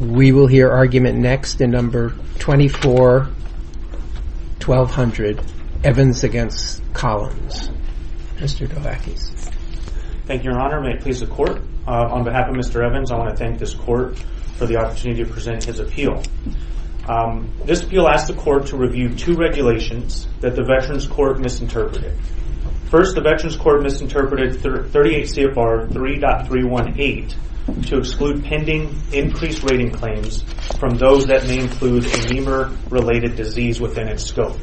we will hear argument next in number twenty four twelve hundred evans against collins mister thank your honor may it please the court uh... on behalf of mister evans i want to thank this court for the opportunity to present his appeal uh... this appeal asked the court to review two regulations that the veterans court misinterpreted first the veterans court misinterpreted thirty eight cfr three dot three one eight to exclude pending increased rating claims from those that may include related disease within its scope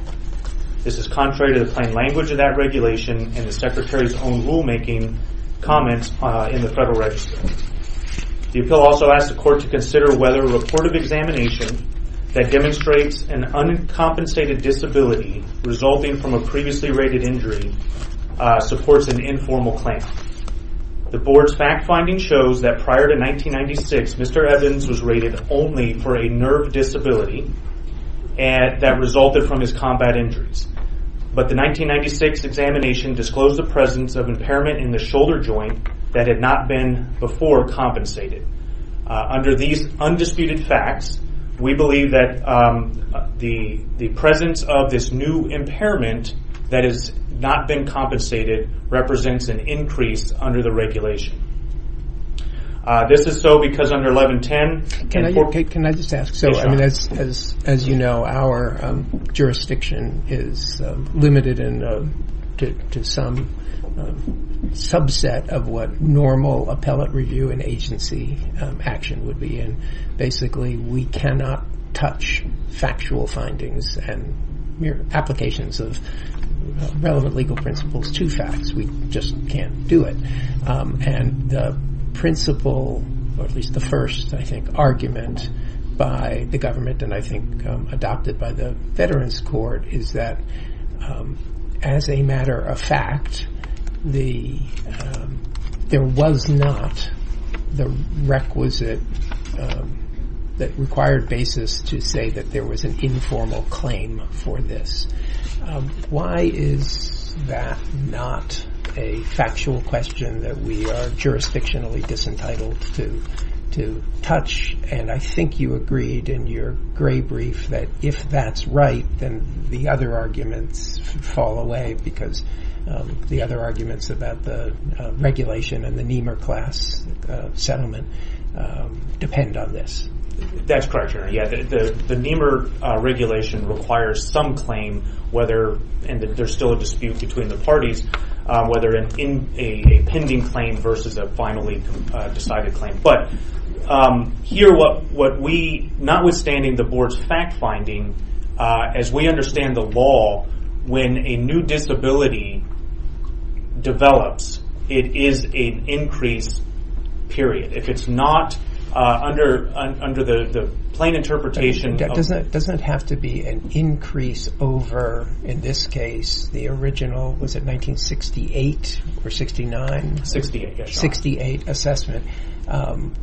this is contrary to the plain language of that regulation and the secretary's own rulemaking comments in the federal register the appeal also asked the court to consider whether a report of examination that demonstrates an uncompensated disability resulting from a previously rated injury uh... supports an informal claim the board's fact finding shows that prior to nineteen ninety six mister evans was rated only for a nerve disability and that resulted from his combat injuries but the nineteen ninety six examination disclosed the presence of impairment in the shoulder joint that had not been before compensated uh... under these undisputed facts we believe that uh... the the presence of this new impairment that has not been compensated represents an increase under the regulation uh... this is so because under eleven ten can i just ask as you know our uh... jurisdiction is uh... limited in uh... to to some subset of what normal appellate review and agency action would be in basically we cannot touch factual findings and applications of relevant legal principles to facts we just can't do it uh... and uh... principle at least the first i think argument by the government and i think uh... adopted by the veterans court is that as a matter of fact the there was not requisite uh... that required basis to say that there was an informal claim for this why is that not a factual question that we are jurisdictionally disentitled to touch and i think you agreed in your gray brief that if that's right the other arguments fall away because the other arguments about the regulation and the nehmer class uh... depend on this that's correct the nehmer regulation requires some claim and there's still a dispute between the parties uh... whether in a pending claim versus a finally decided claim but uh... here what what we notwithstanding the board's fact finding uh... as we understand the law when a new disability develops it is an increase period if it's not uh... under under the plain interpretation doesn't doesn't have to be an increase over in this case the original was in nineteen sixty eight or sixty nine sixty eight assessment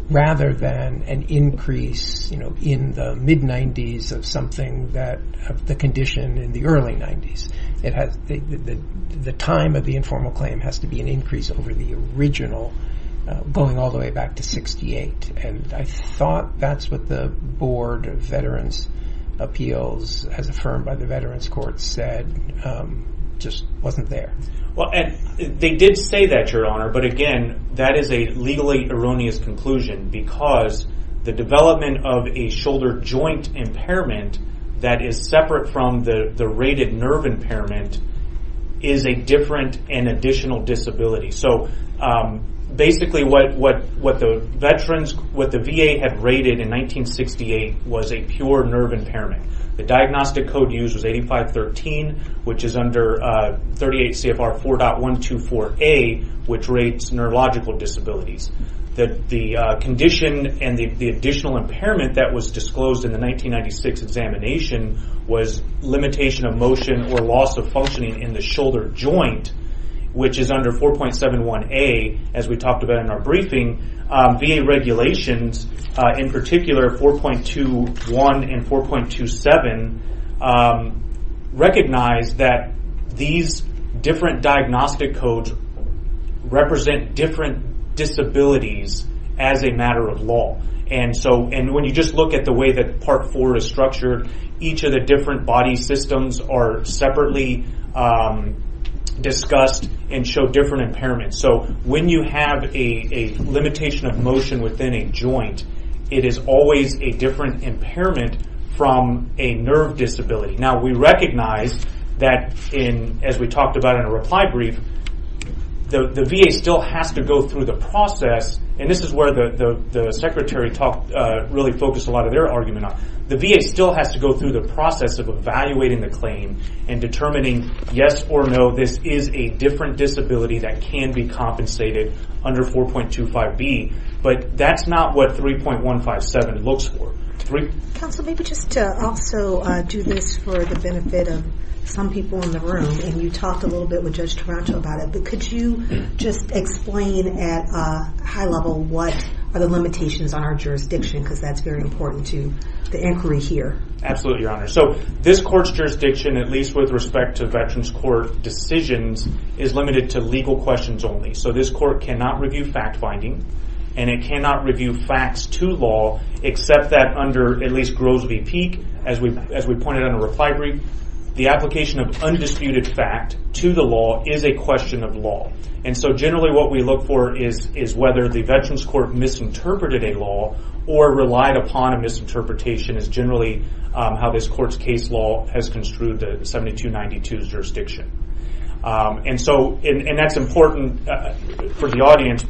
rather than an increase you know in the mid nineties of something that the condition in the early nineties it has the time of the informal claim has to be an increase over the original uh... going all the way back to sixty eight and i thought that's what the board of veterans appeals has affirmed by the veterans court said just wasn't there they did say that your honor but again that is a legally erroneous conclusion because the development of a shoulder joint impairment that is separate from the the rated nerve impairment is a different and additional disability so basically what what what the veterans what the VA had rated in nineteen sixty eight was a pure nerve impairment the diagnostic code used was eighty five thirteen which is under uh... thirty eight cfr four dot one two four a which rates neurological disabilities that the uh... condition and the additional impairment that was disclosed in the nineteen ninety six examination limitation of motion or loss of functioning in the shoulder joint which is under four point seven one a as we talked about in our briefing uh... the regulations uh... in particular four point two one and four point two seven uh... recognize that different diagnostic codes represent different disabilities as a matter of law and so and when you just look at the way that part four is structured each of the different body systems are separately uh... discussed and show different impairments so when you have a limitation of motion within a joint it is always a different impairment from a nerve disability now we recognize that in as we talked about in a reply brief the VA still has to go through the process and this is where the secretary talked uh... really focused a lot of their argument on the VA still has to go through the process of evaluating the claim and determining yes or no this is a different disability that can be compensated under four point two five b but that's not what three point one five seven looks for counsel maybe just to also do this for the benefit of some people in the room and you talked a little bit with judge taranto about it but could you just explain at uh... high level what are the limitations on our jurisdiction because that's very important to the inquiry here absolutely your honor so this court's jurisdiction at least with respect to veterans court decisions is limited to legal questions only so this court cannot review fact finding and it cannot review facts to law except that under at least groves v peak as we as we pointed out in the reply brief the application of undisputed fact to the law is a question of law and so generally what we look for is is whether the veterans court misinterpreted a law or relied upon a misinterpretation is generally uh... how this court's case law has construed the seventy two ninety two jurisdiction uh... and so and and that's important uh... for the audience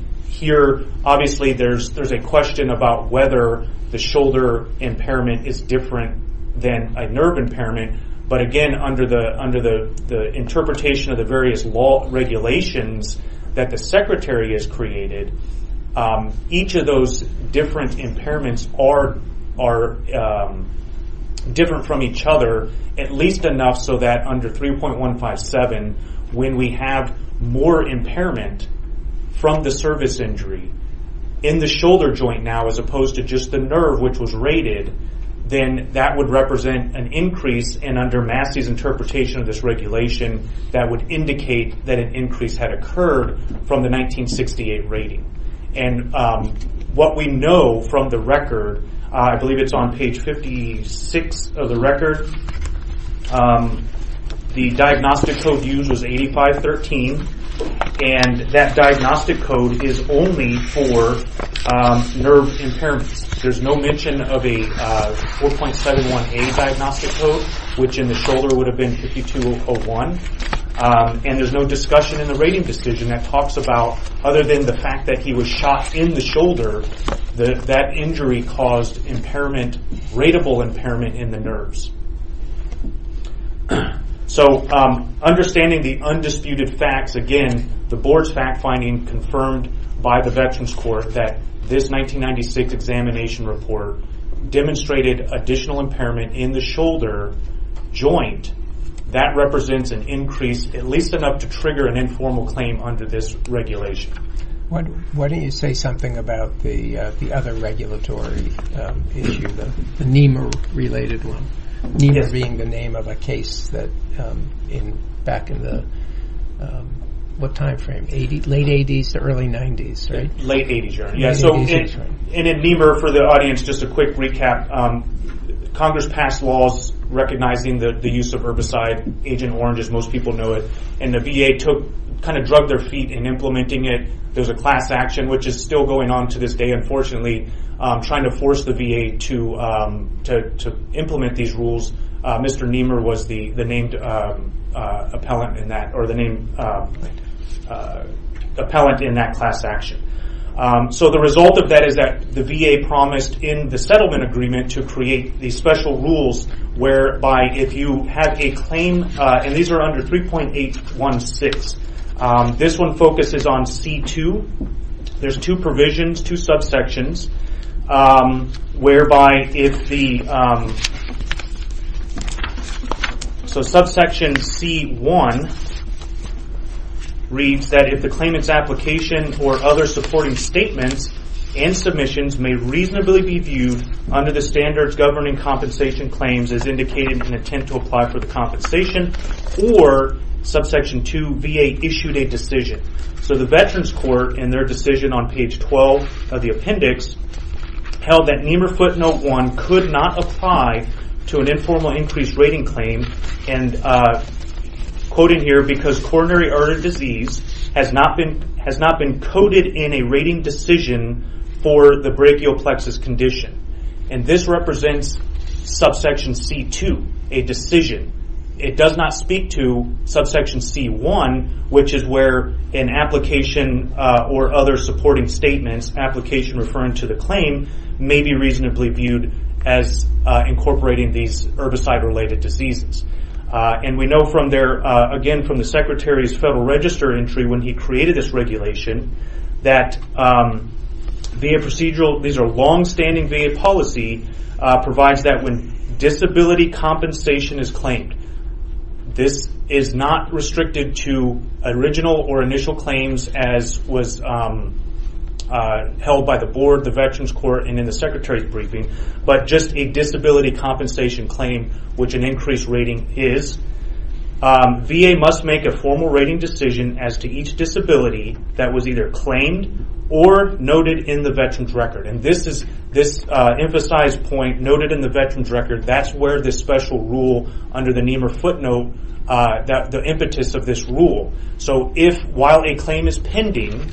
obviously there's there's a question about whether the shoulder impairment is different than a nerve impairment but again under the under the interpretation of the various law regulations that the secretary has created uh... each of those different impairments are are uh... different from each other at least enough so that under three point one five seven when we have more impairment from the service injury in the shoulder joint now as opposed to just the nerve which was rated then that would represent an increase in under massey's interpretation of this regulation that would indicate that increase had occurred from the nineteen sixty eight rating and uh... what we know from the record i believe it's on page fifty six of the record uh... the diagnostic code used was eighty five thirteen and that diagnostic code is only for uh... nerve impairments there's no mention of a four point seven one a diagnostic code which in the shoulder would have been fifty two oh one uh... and there's no discussion in the rating decision that talks about other than the fact that he was shot in the shoulder that that injury caused impairment rateable impairment in the nerves so uh... understanding the undisputed facts again the board's fact finding confirmed by the veterans court that this nineteen ninety six examination report demonstrated additional impairment in the shoulder joint that represents an increase at least enough to trigger an informal claim under this regulation why don't you say something about the uh... the other regulatory NEMR related one NEMR being the name of a case that back in the what time frame, late eighties to early nineties right? late eighties yes so in NEMR for the audience just a quick recap congress passed laws recognizing that the use of herbicide agent orange as most people know it and the V.A. took kind of drug their feet in implementing it there's a class action which is still going on to this day unfortunately uh... trying to force the V.A. to uh... to implement these rules uh... Mr. NEMR was the named uh... uh... appellant in that or the named uh... appellant in that class action uh... so the result of that is that the V.A. promised in the settlement agreement to create these special rules whereby if you have a claim uh... and these are under 3.816 uh... this one focuses on C2 there's two provisions two subsections uh... whereby if the uh... so subsection C1 reads that if the claimant's application or other supporting statements and submissions may reasonably be viewed under the standards governing compensation claims as indicated in an attempt to apply for the compensation or subsection two V.A. issued a decision so the veterans court in their decision on page twelve of the appendix held that NEMR footnote one could not apply to an informal increased rating claim and uh... and that's important here because coronary artery disease has not been has not been coded in a rating decision for the brachial plexus condition and this represents subsection C2 a decision it does not speak to subsection C1 which is where an application uh... or other supporting statements application referring to the claim may be reasonably viewed as uh... incorporating these herbicide related diseases uh... and we know from their uh... again from the secretary's federal register entry when he created this regulation that uh... V.A. procedural these are long-standing V.A. policy uh... provides that when disability compensation is claimed this is not restricted to original or initial claims as was uh... uh... held by the board the veterans court and in the secretary's briefing but just a disability compensation claim which an increased rating is uh... V.A. must make a formal rating decision as to each disability that was either claimed or noted in the veterans record and this is this uh... emphasize point noted in the veterans record that's where this special rule under the Nehmer footnote uh... that the impetus of this rule so if while a claim is pending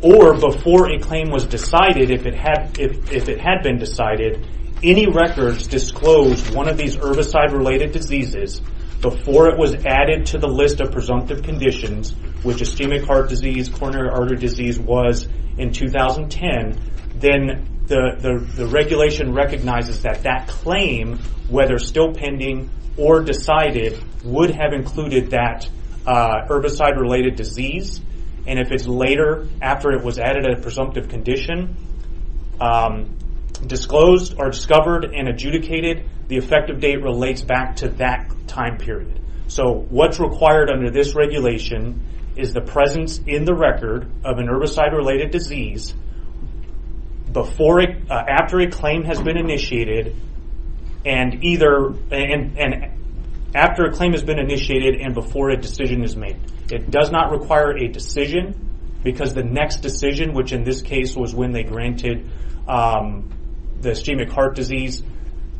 or before a claim was decided if it had if it had been decided any records disclosed one of these herbicide related diseases before it was added to the list of presumptive conditions which is ischemic heart disease coronary artery disease was in two thousand ten then the regulation recognizes that that claim whether still pending or decided would have included that uh... herbicide related disease and if it's later after it was added a presumptive condition uh... disclosed or discovered and adjudicated the effective date relates back to that time period so what's required under this regulation is the presence in the record of an herbicide related disease before it uh... after a claim has been initiated and either and and after a claim has been initiated and before a decision is made it does not require a decision because the next decision which in this case was when they granted uh... the ischemic heart disease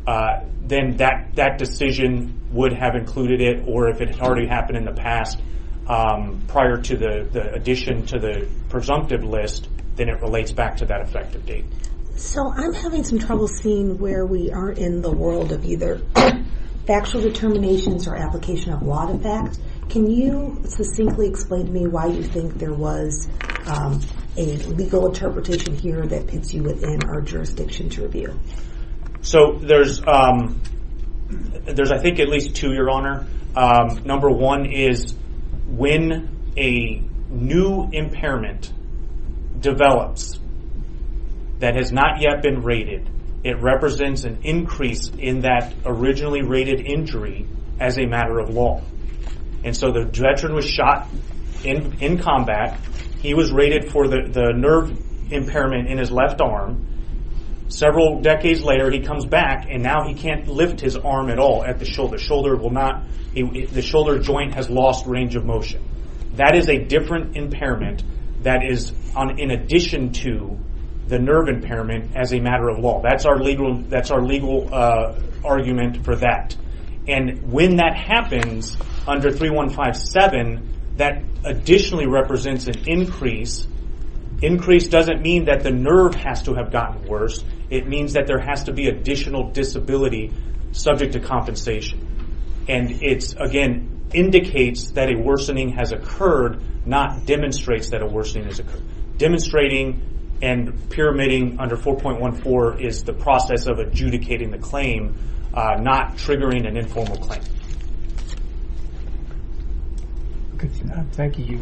uh... then that that decision would have included it or if it had already happened in the past uh... prior to the the addition to the presumptive list then it relates back to that effective date so I'm having some trouble seeing where we are in the world of either factual determinations or application of law to fact can you succinctly explain to me why you think there was a legal interpretation here that pits you within our jurisdiction to review so there's uh... there's I think at least two your honor uh... number one is when a new impairment develops that has not yet been rated it represents an increase in that originally rated injury as a matter of law and so the veteran was shot in combat he was rated for the the nerve impairment in his left arm several decades later he comes back and now he can't lift his arm at all at the shoulder shoulder will not the shoulder joint has lost range of motion that is a different impairment that is on in addition to the nerve impairment as a matter of law that's our legal that's our legal uh... argument for that and when that happens under three one five seven additionally represents an increase increase doesn't mean that the nerve has to have gotten worse it means that there has to be additional disability subject to compensation and it's again indicates that a worsening has occurred not demonstrates that a worsening has occurred demonstrating and pyramiding under four point one four is the process of adjudicating the claim uh... not triggering an informal claim thank you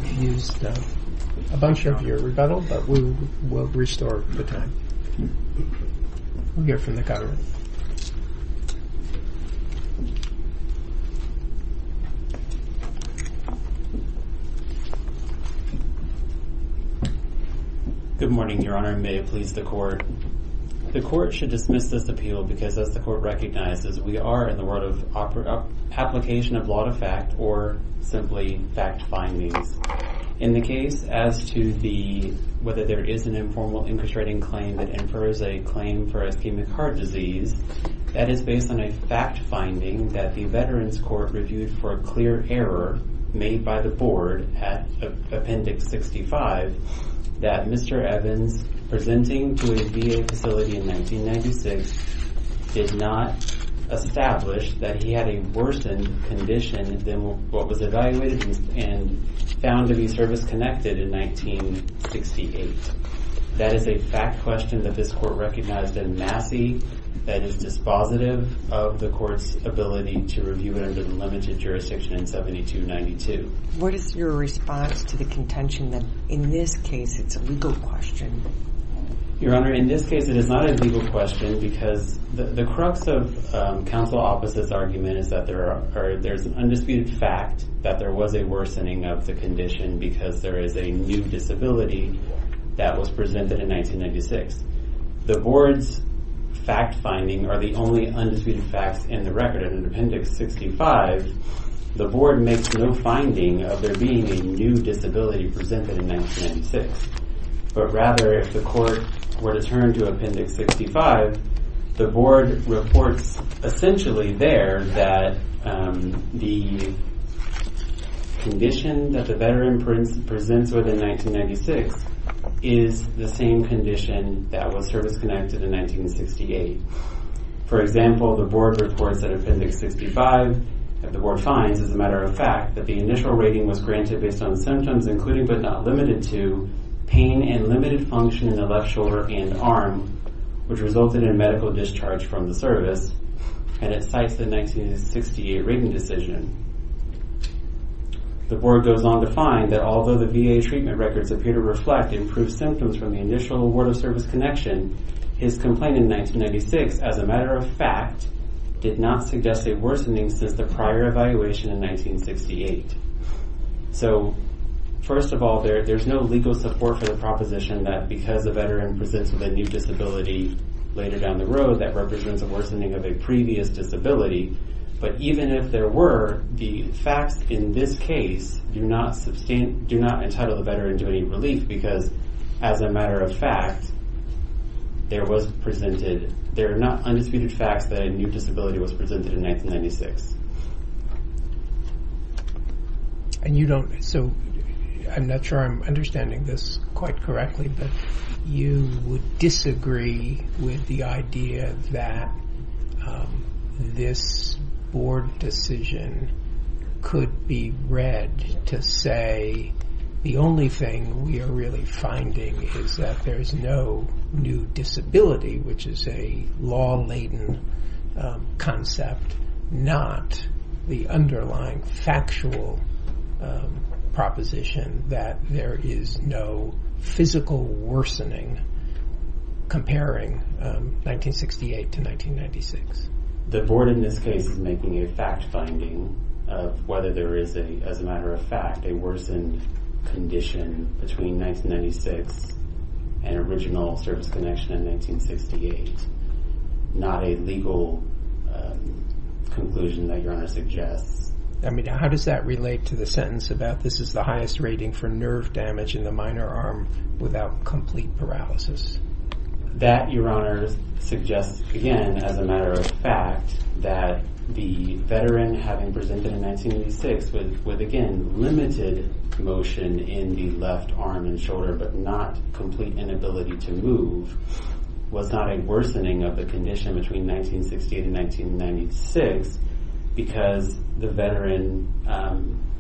a bunch of your rebuttal but we will restore the time we'll hear from the government good morning your honor and may it please the court the court should dismiss this appeal because as the court recognizes we are in the world of application of lot of fact or simply fact findings in the case as to the whether there is an informal incarcerating claim that infers a claim for ischemic heart disease that is based on a fact finding that the veterans court reviewed for a clear error made by the board at appendix sixty five that mister evans presenting to a VA facility in nineteen ninety six did not establish that he had a worsened condition than what was evaluated and found to be service connected in nineteen sixty eight that is a fact question that this court recognized in massey that is dispositive of the court's ability to review it under the limited jurisdiction in seventy two ninety two what is your response to the contention that in this case it's a legal question your honor in this case it is not a legal question because the crux of council office's argument is that there are there's an undisputed fact that there was a worsening of the condition because there is a new disability that was presented in nineteen ninety six the board's fact finding are the only undisputed facts in the record in appendix sixty five the board makes no finding of there being a new disability presented in nineteen ninety six but rather if the court were to turn to appendix sixty five the board reports essentially there that the condition that the veteran presents with in nineteen ninety six is the same condition that was service connected in nineteen sixty eight for example the board reports that appendix sixty five the board finds as a matter of fact that the initial rating was granted based on symptoms including but not limited to pain and limited function in the left shoulder and arm which resulted in medical discharge from the service and it cites the nineteen sixty eight rating decision the board goes on to find that although the VA treatment records appear to reflect improved symptoms from the initial award of service connection his complaint in nineteen ninety six as a matter of fact did not suggest a worsening since the prior evaluation in nineteen sixty eight first of all there's no legal support for the proposition that because the veteran presents with a new disability later down the road that represents a worsening of a previous disability but even if there were the facts in this case do not do not entitle the veteran to any relief because as a matter of fact there was presented there are not undisputed facts that a new disability was presented in nineteen ninety six and you don't so I'm not sure I'm understanding this quite correctly but you would disagree with the idea that this board decision could be read to say the only thing we are really finding is that there's no new disability which is a law laden concept not the underlying factual proposition that there is no physical worsening comparing nineteen sixty eight to nineteen ninety six the board in this case is making a fact finding of whether there is a as a matter of fact a worsened condition between nineteen ninety six and original service connection in nineteen sixty eight not a legal conclusion that your honor suggests I mean how does that relate to the sentence about this is the highest rating for nerve damage in the minor arm without complete paralysis that your honor suggests again as a matter of fact that the veteran having presented in nineteen ninety six with again limited motion in the left arm and shoulder but not complete inability to move was not a worsening of the condition between nineteen sixty eight and nineteen ninety six because the veteran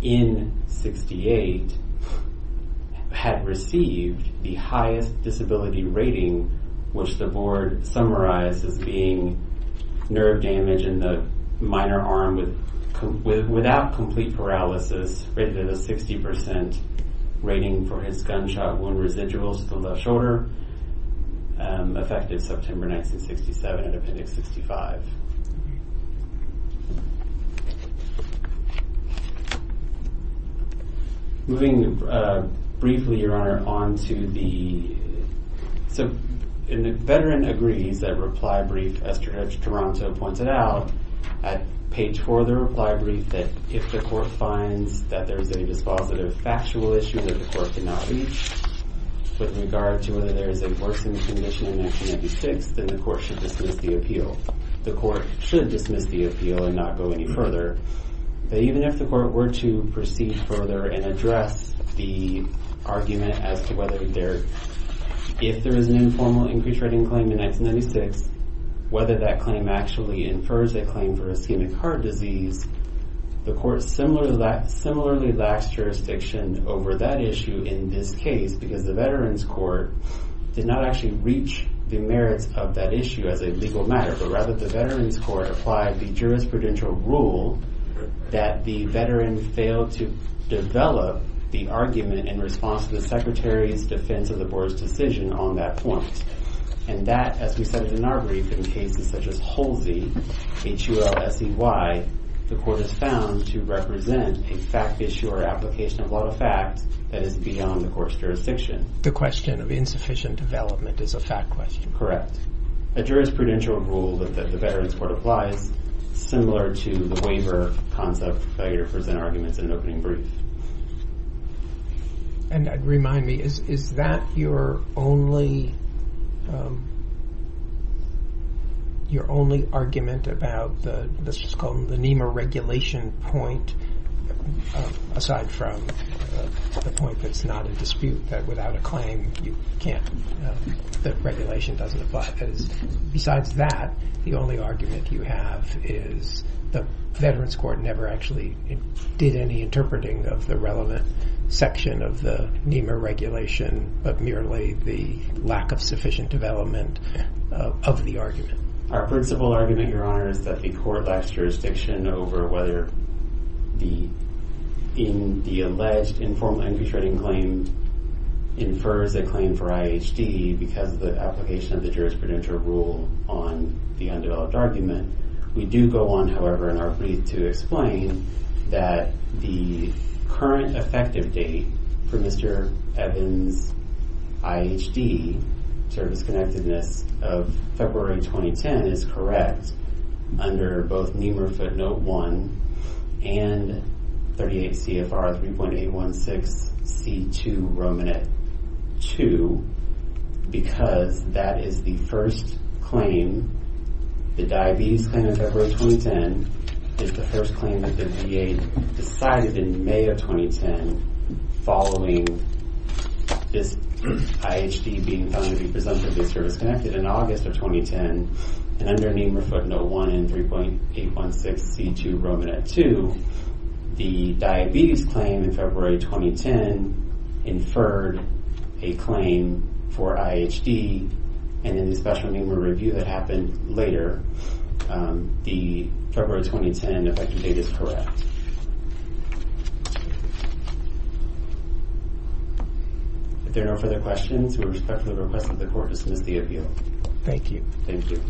in sixty eight had received the highest disability rating which the board summarizes as being nerve damage in the minor arm without complete paralysis rated at a sixty percent rating for his gunshot wound residuals in the left shoulder affected September nineteen sixty seven and appendix sixty five moving briefly your honor on to the veteran agrees that reply brief as Toronto pointed out page four of the reply brief that if the court finds that there is a dispositive factual issue that the court cannot reach with regard to whether there is a worsening condition in nineteen ninety six then the court should dismiss the appeal the court should dismiss the appeal and not go any further but even if the court were to proceed further and address the argument as to whether there if there is an informal increased rating claim in nineteen ninety six whether that claim actually infers a claim for ischemic heart disease the court similarly lacks jurisdiction over that issue in this case because the veterans court did not actually reach the merits of that issue as a legal matter but rather the veterans court applied the jurisprudential rule that the veteran failed to develop the argument in response to the secretary's defense of the board's decision on that point and that as we said in our brief in cases such as Halsey H-U-L-S-E-Y the court has found to represent a fact issue or application of a lot of facts that is beyond the court's jurisdiction the question of insufficient development is a fact question a jurisprudential rule that the veterans court applies similar to the waiver concept failure to present arguments in an opening brief and remind me is that your only your only argument about the NEMA regulation point aside from the point that it's not a dispute that without a claim you can't the regulation doesn't apply besides that the only argument you have is the veterans court never actually did any interpreting of the relevant section of the NEMA regulation but merely the lack of sufficient development of the argument our principle argument your honor is that the court lacks jurisdiction over whether the in the alleged informal language writing claim infers a claim for IHD because of the application of the jurisprudential rule on the undeveloped argument we do go on however in our plea to explain that the current effective date for Mr. Evans IHD service connectedness of February 2010 is correct under both NEMA footnote 1 and 38 CFR 3.816 C2 Romanet 2 because that is the first claim the diabetes claim in February 2010 is the first claim that the VA decided in May of 2010 following this IHD being found to be presumptive of service connected in August of 2010 and under NEMA footnote 1 and 3.816 C2 Romanet 2 the diabetes claim in February 2010 inferred a claim for IHD and in the special NEMA review that happened later the February 2010 effective date is correct if there are no further questions we respectfully request that the court dismiss the appeal thank you thank you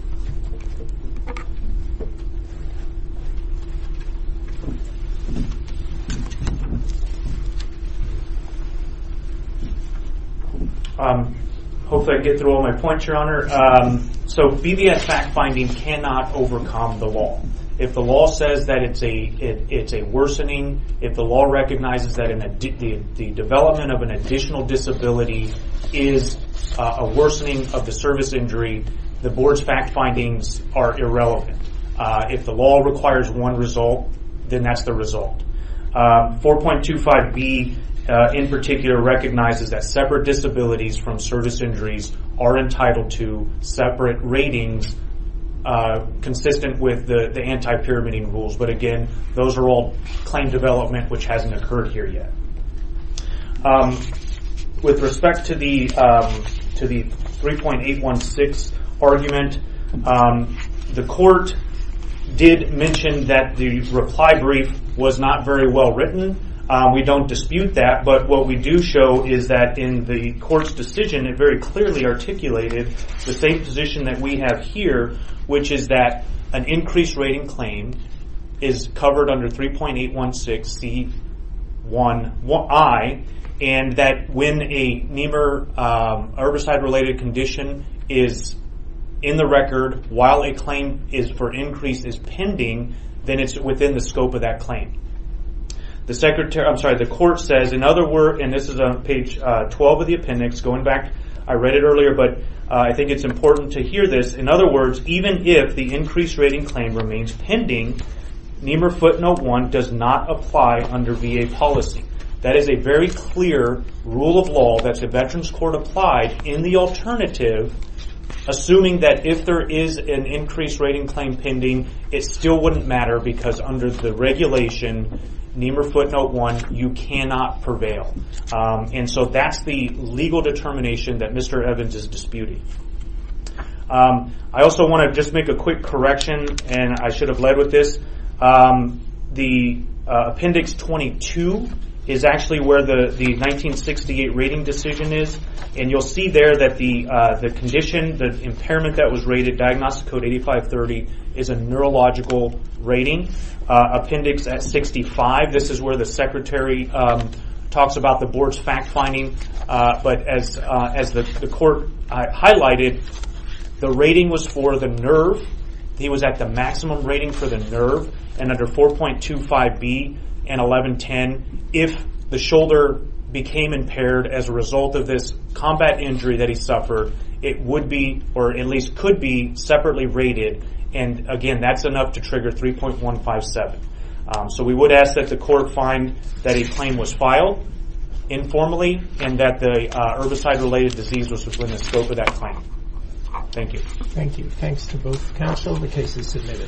hopefully I get through all my points your honor so BVS fact finding cannot overcome the law if the law says that it's a worsening if the law recognizes that the development of an additional disability is a worsening of the service injury the board's fact findings are irrelevant if the law requires one result then that's the result 4.25B in particular recognizes that separate disabilities from service injuries are entitled to separate ratings consistent with the anti-pyramiding rules but again those are all claim development which hasn't occurred here yet with respect to the 3.816 argument the court did mention that the reply brief was not very well written we don't dispute that but what we do show is that in the court's decision it very clearly articulated the safe position that we have here which is that an increased rating claim is covered under 3.816 C1I and that when a NEMA herbicide related condition is in the record while a claim for increase is pending then it's within the scope of that claim the court says in other words and this is on page 12 of the appendix I read it earlier but I think it's important to hear this in other words even if the increased rating claim remains pending NEMA footnote 1 does not apply under VA policy that is a very clear rule of law that the veterans court applied in the alternative assuming that if there is an increased rating claim pending it still wouldn't matter because under the regulation NEMA footnote 1 you cannot prevail and so that's the legal determination that Mr. Evans is disputing I also want to just make a quick correction and I should have led with this the appendix 22 is actually where the 1968 rating decision is and you'll see there that the condition the impairment that was rated diagnostic code 8530 is a neurological rating appendix 65 this is where the secretary talks about the board's fact finding but as the court highlighted the rating was for the nerve he was at the maximum rating for the nerve and under 4.25B and 1110 if the shoulder became impaired as a result of this combat injury that he suffered it would be or at least could be separately rated and again that's enough to trigger 3.157 so we would ask that the court find that a claim was filed informally and that the herbicide related disease was within the scope of that claim Thank you Thank you. Thanks to both counsel. The case is submitted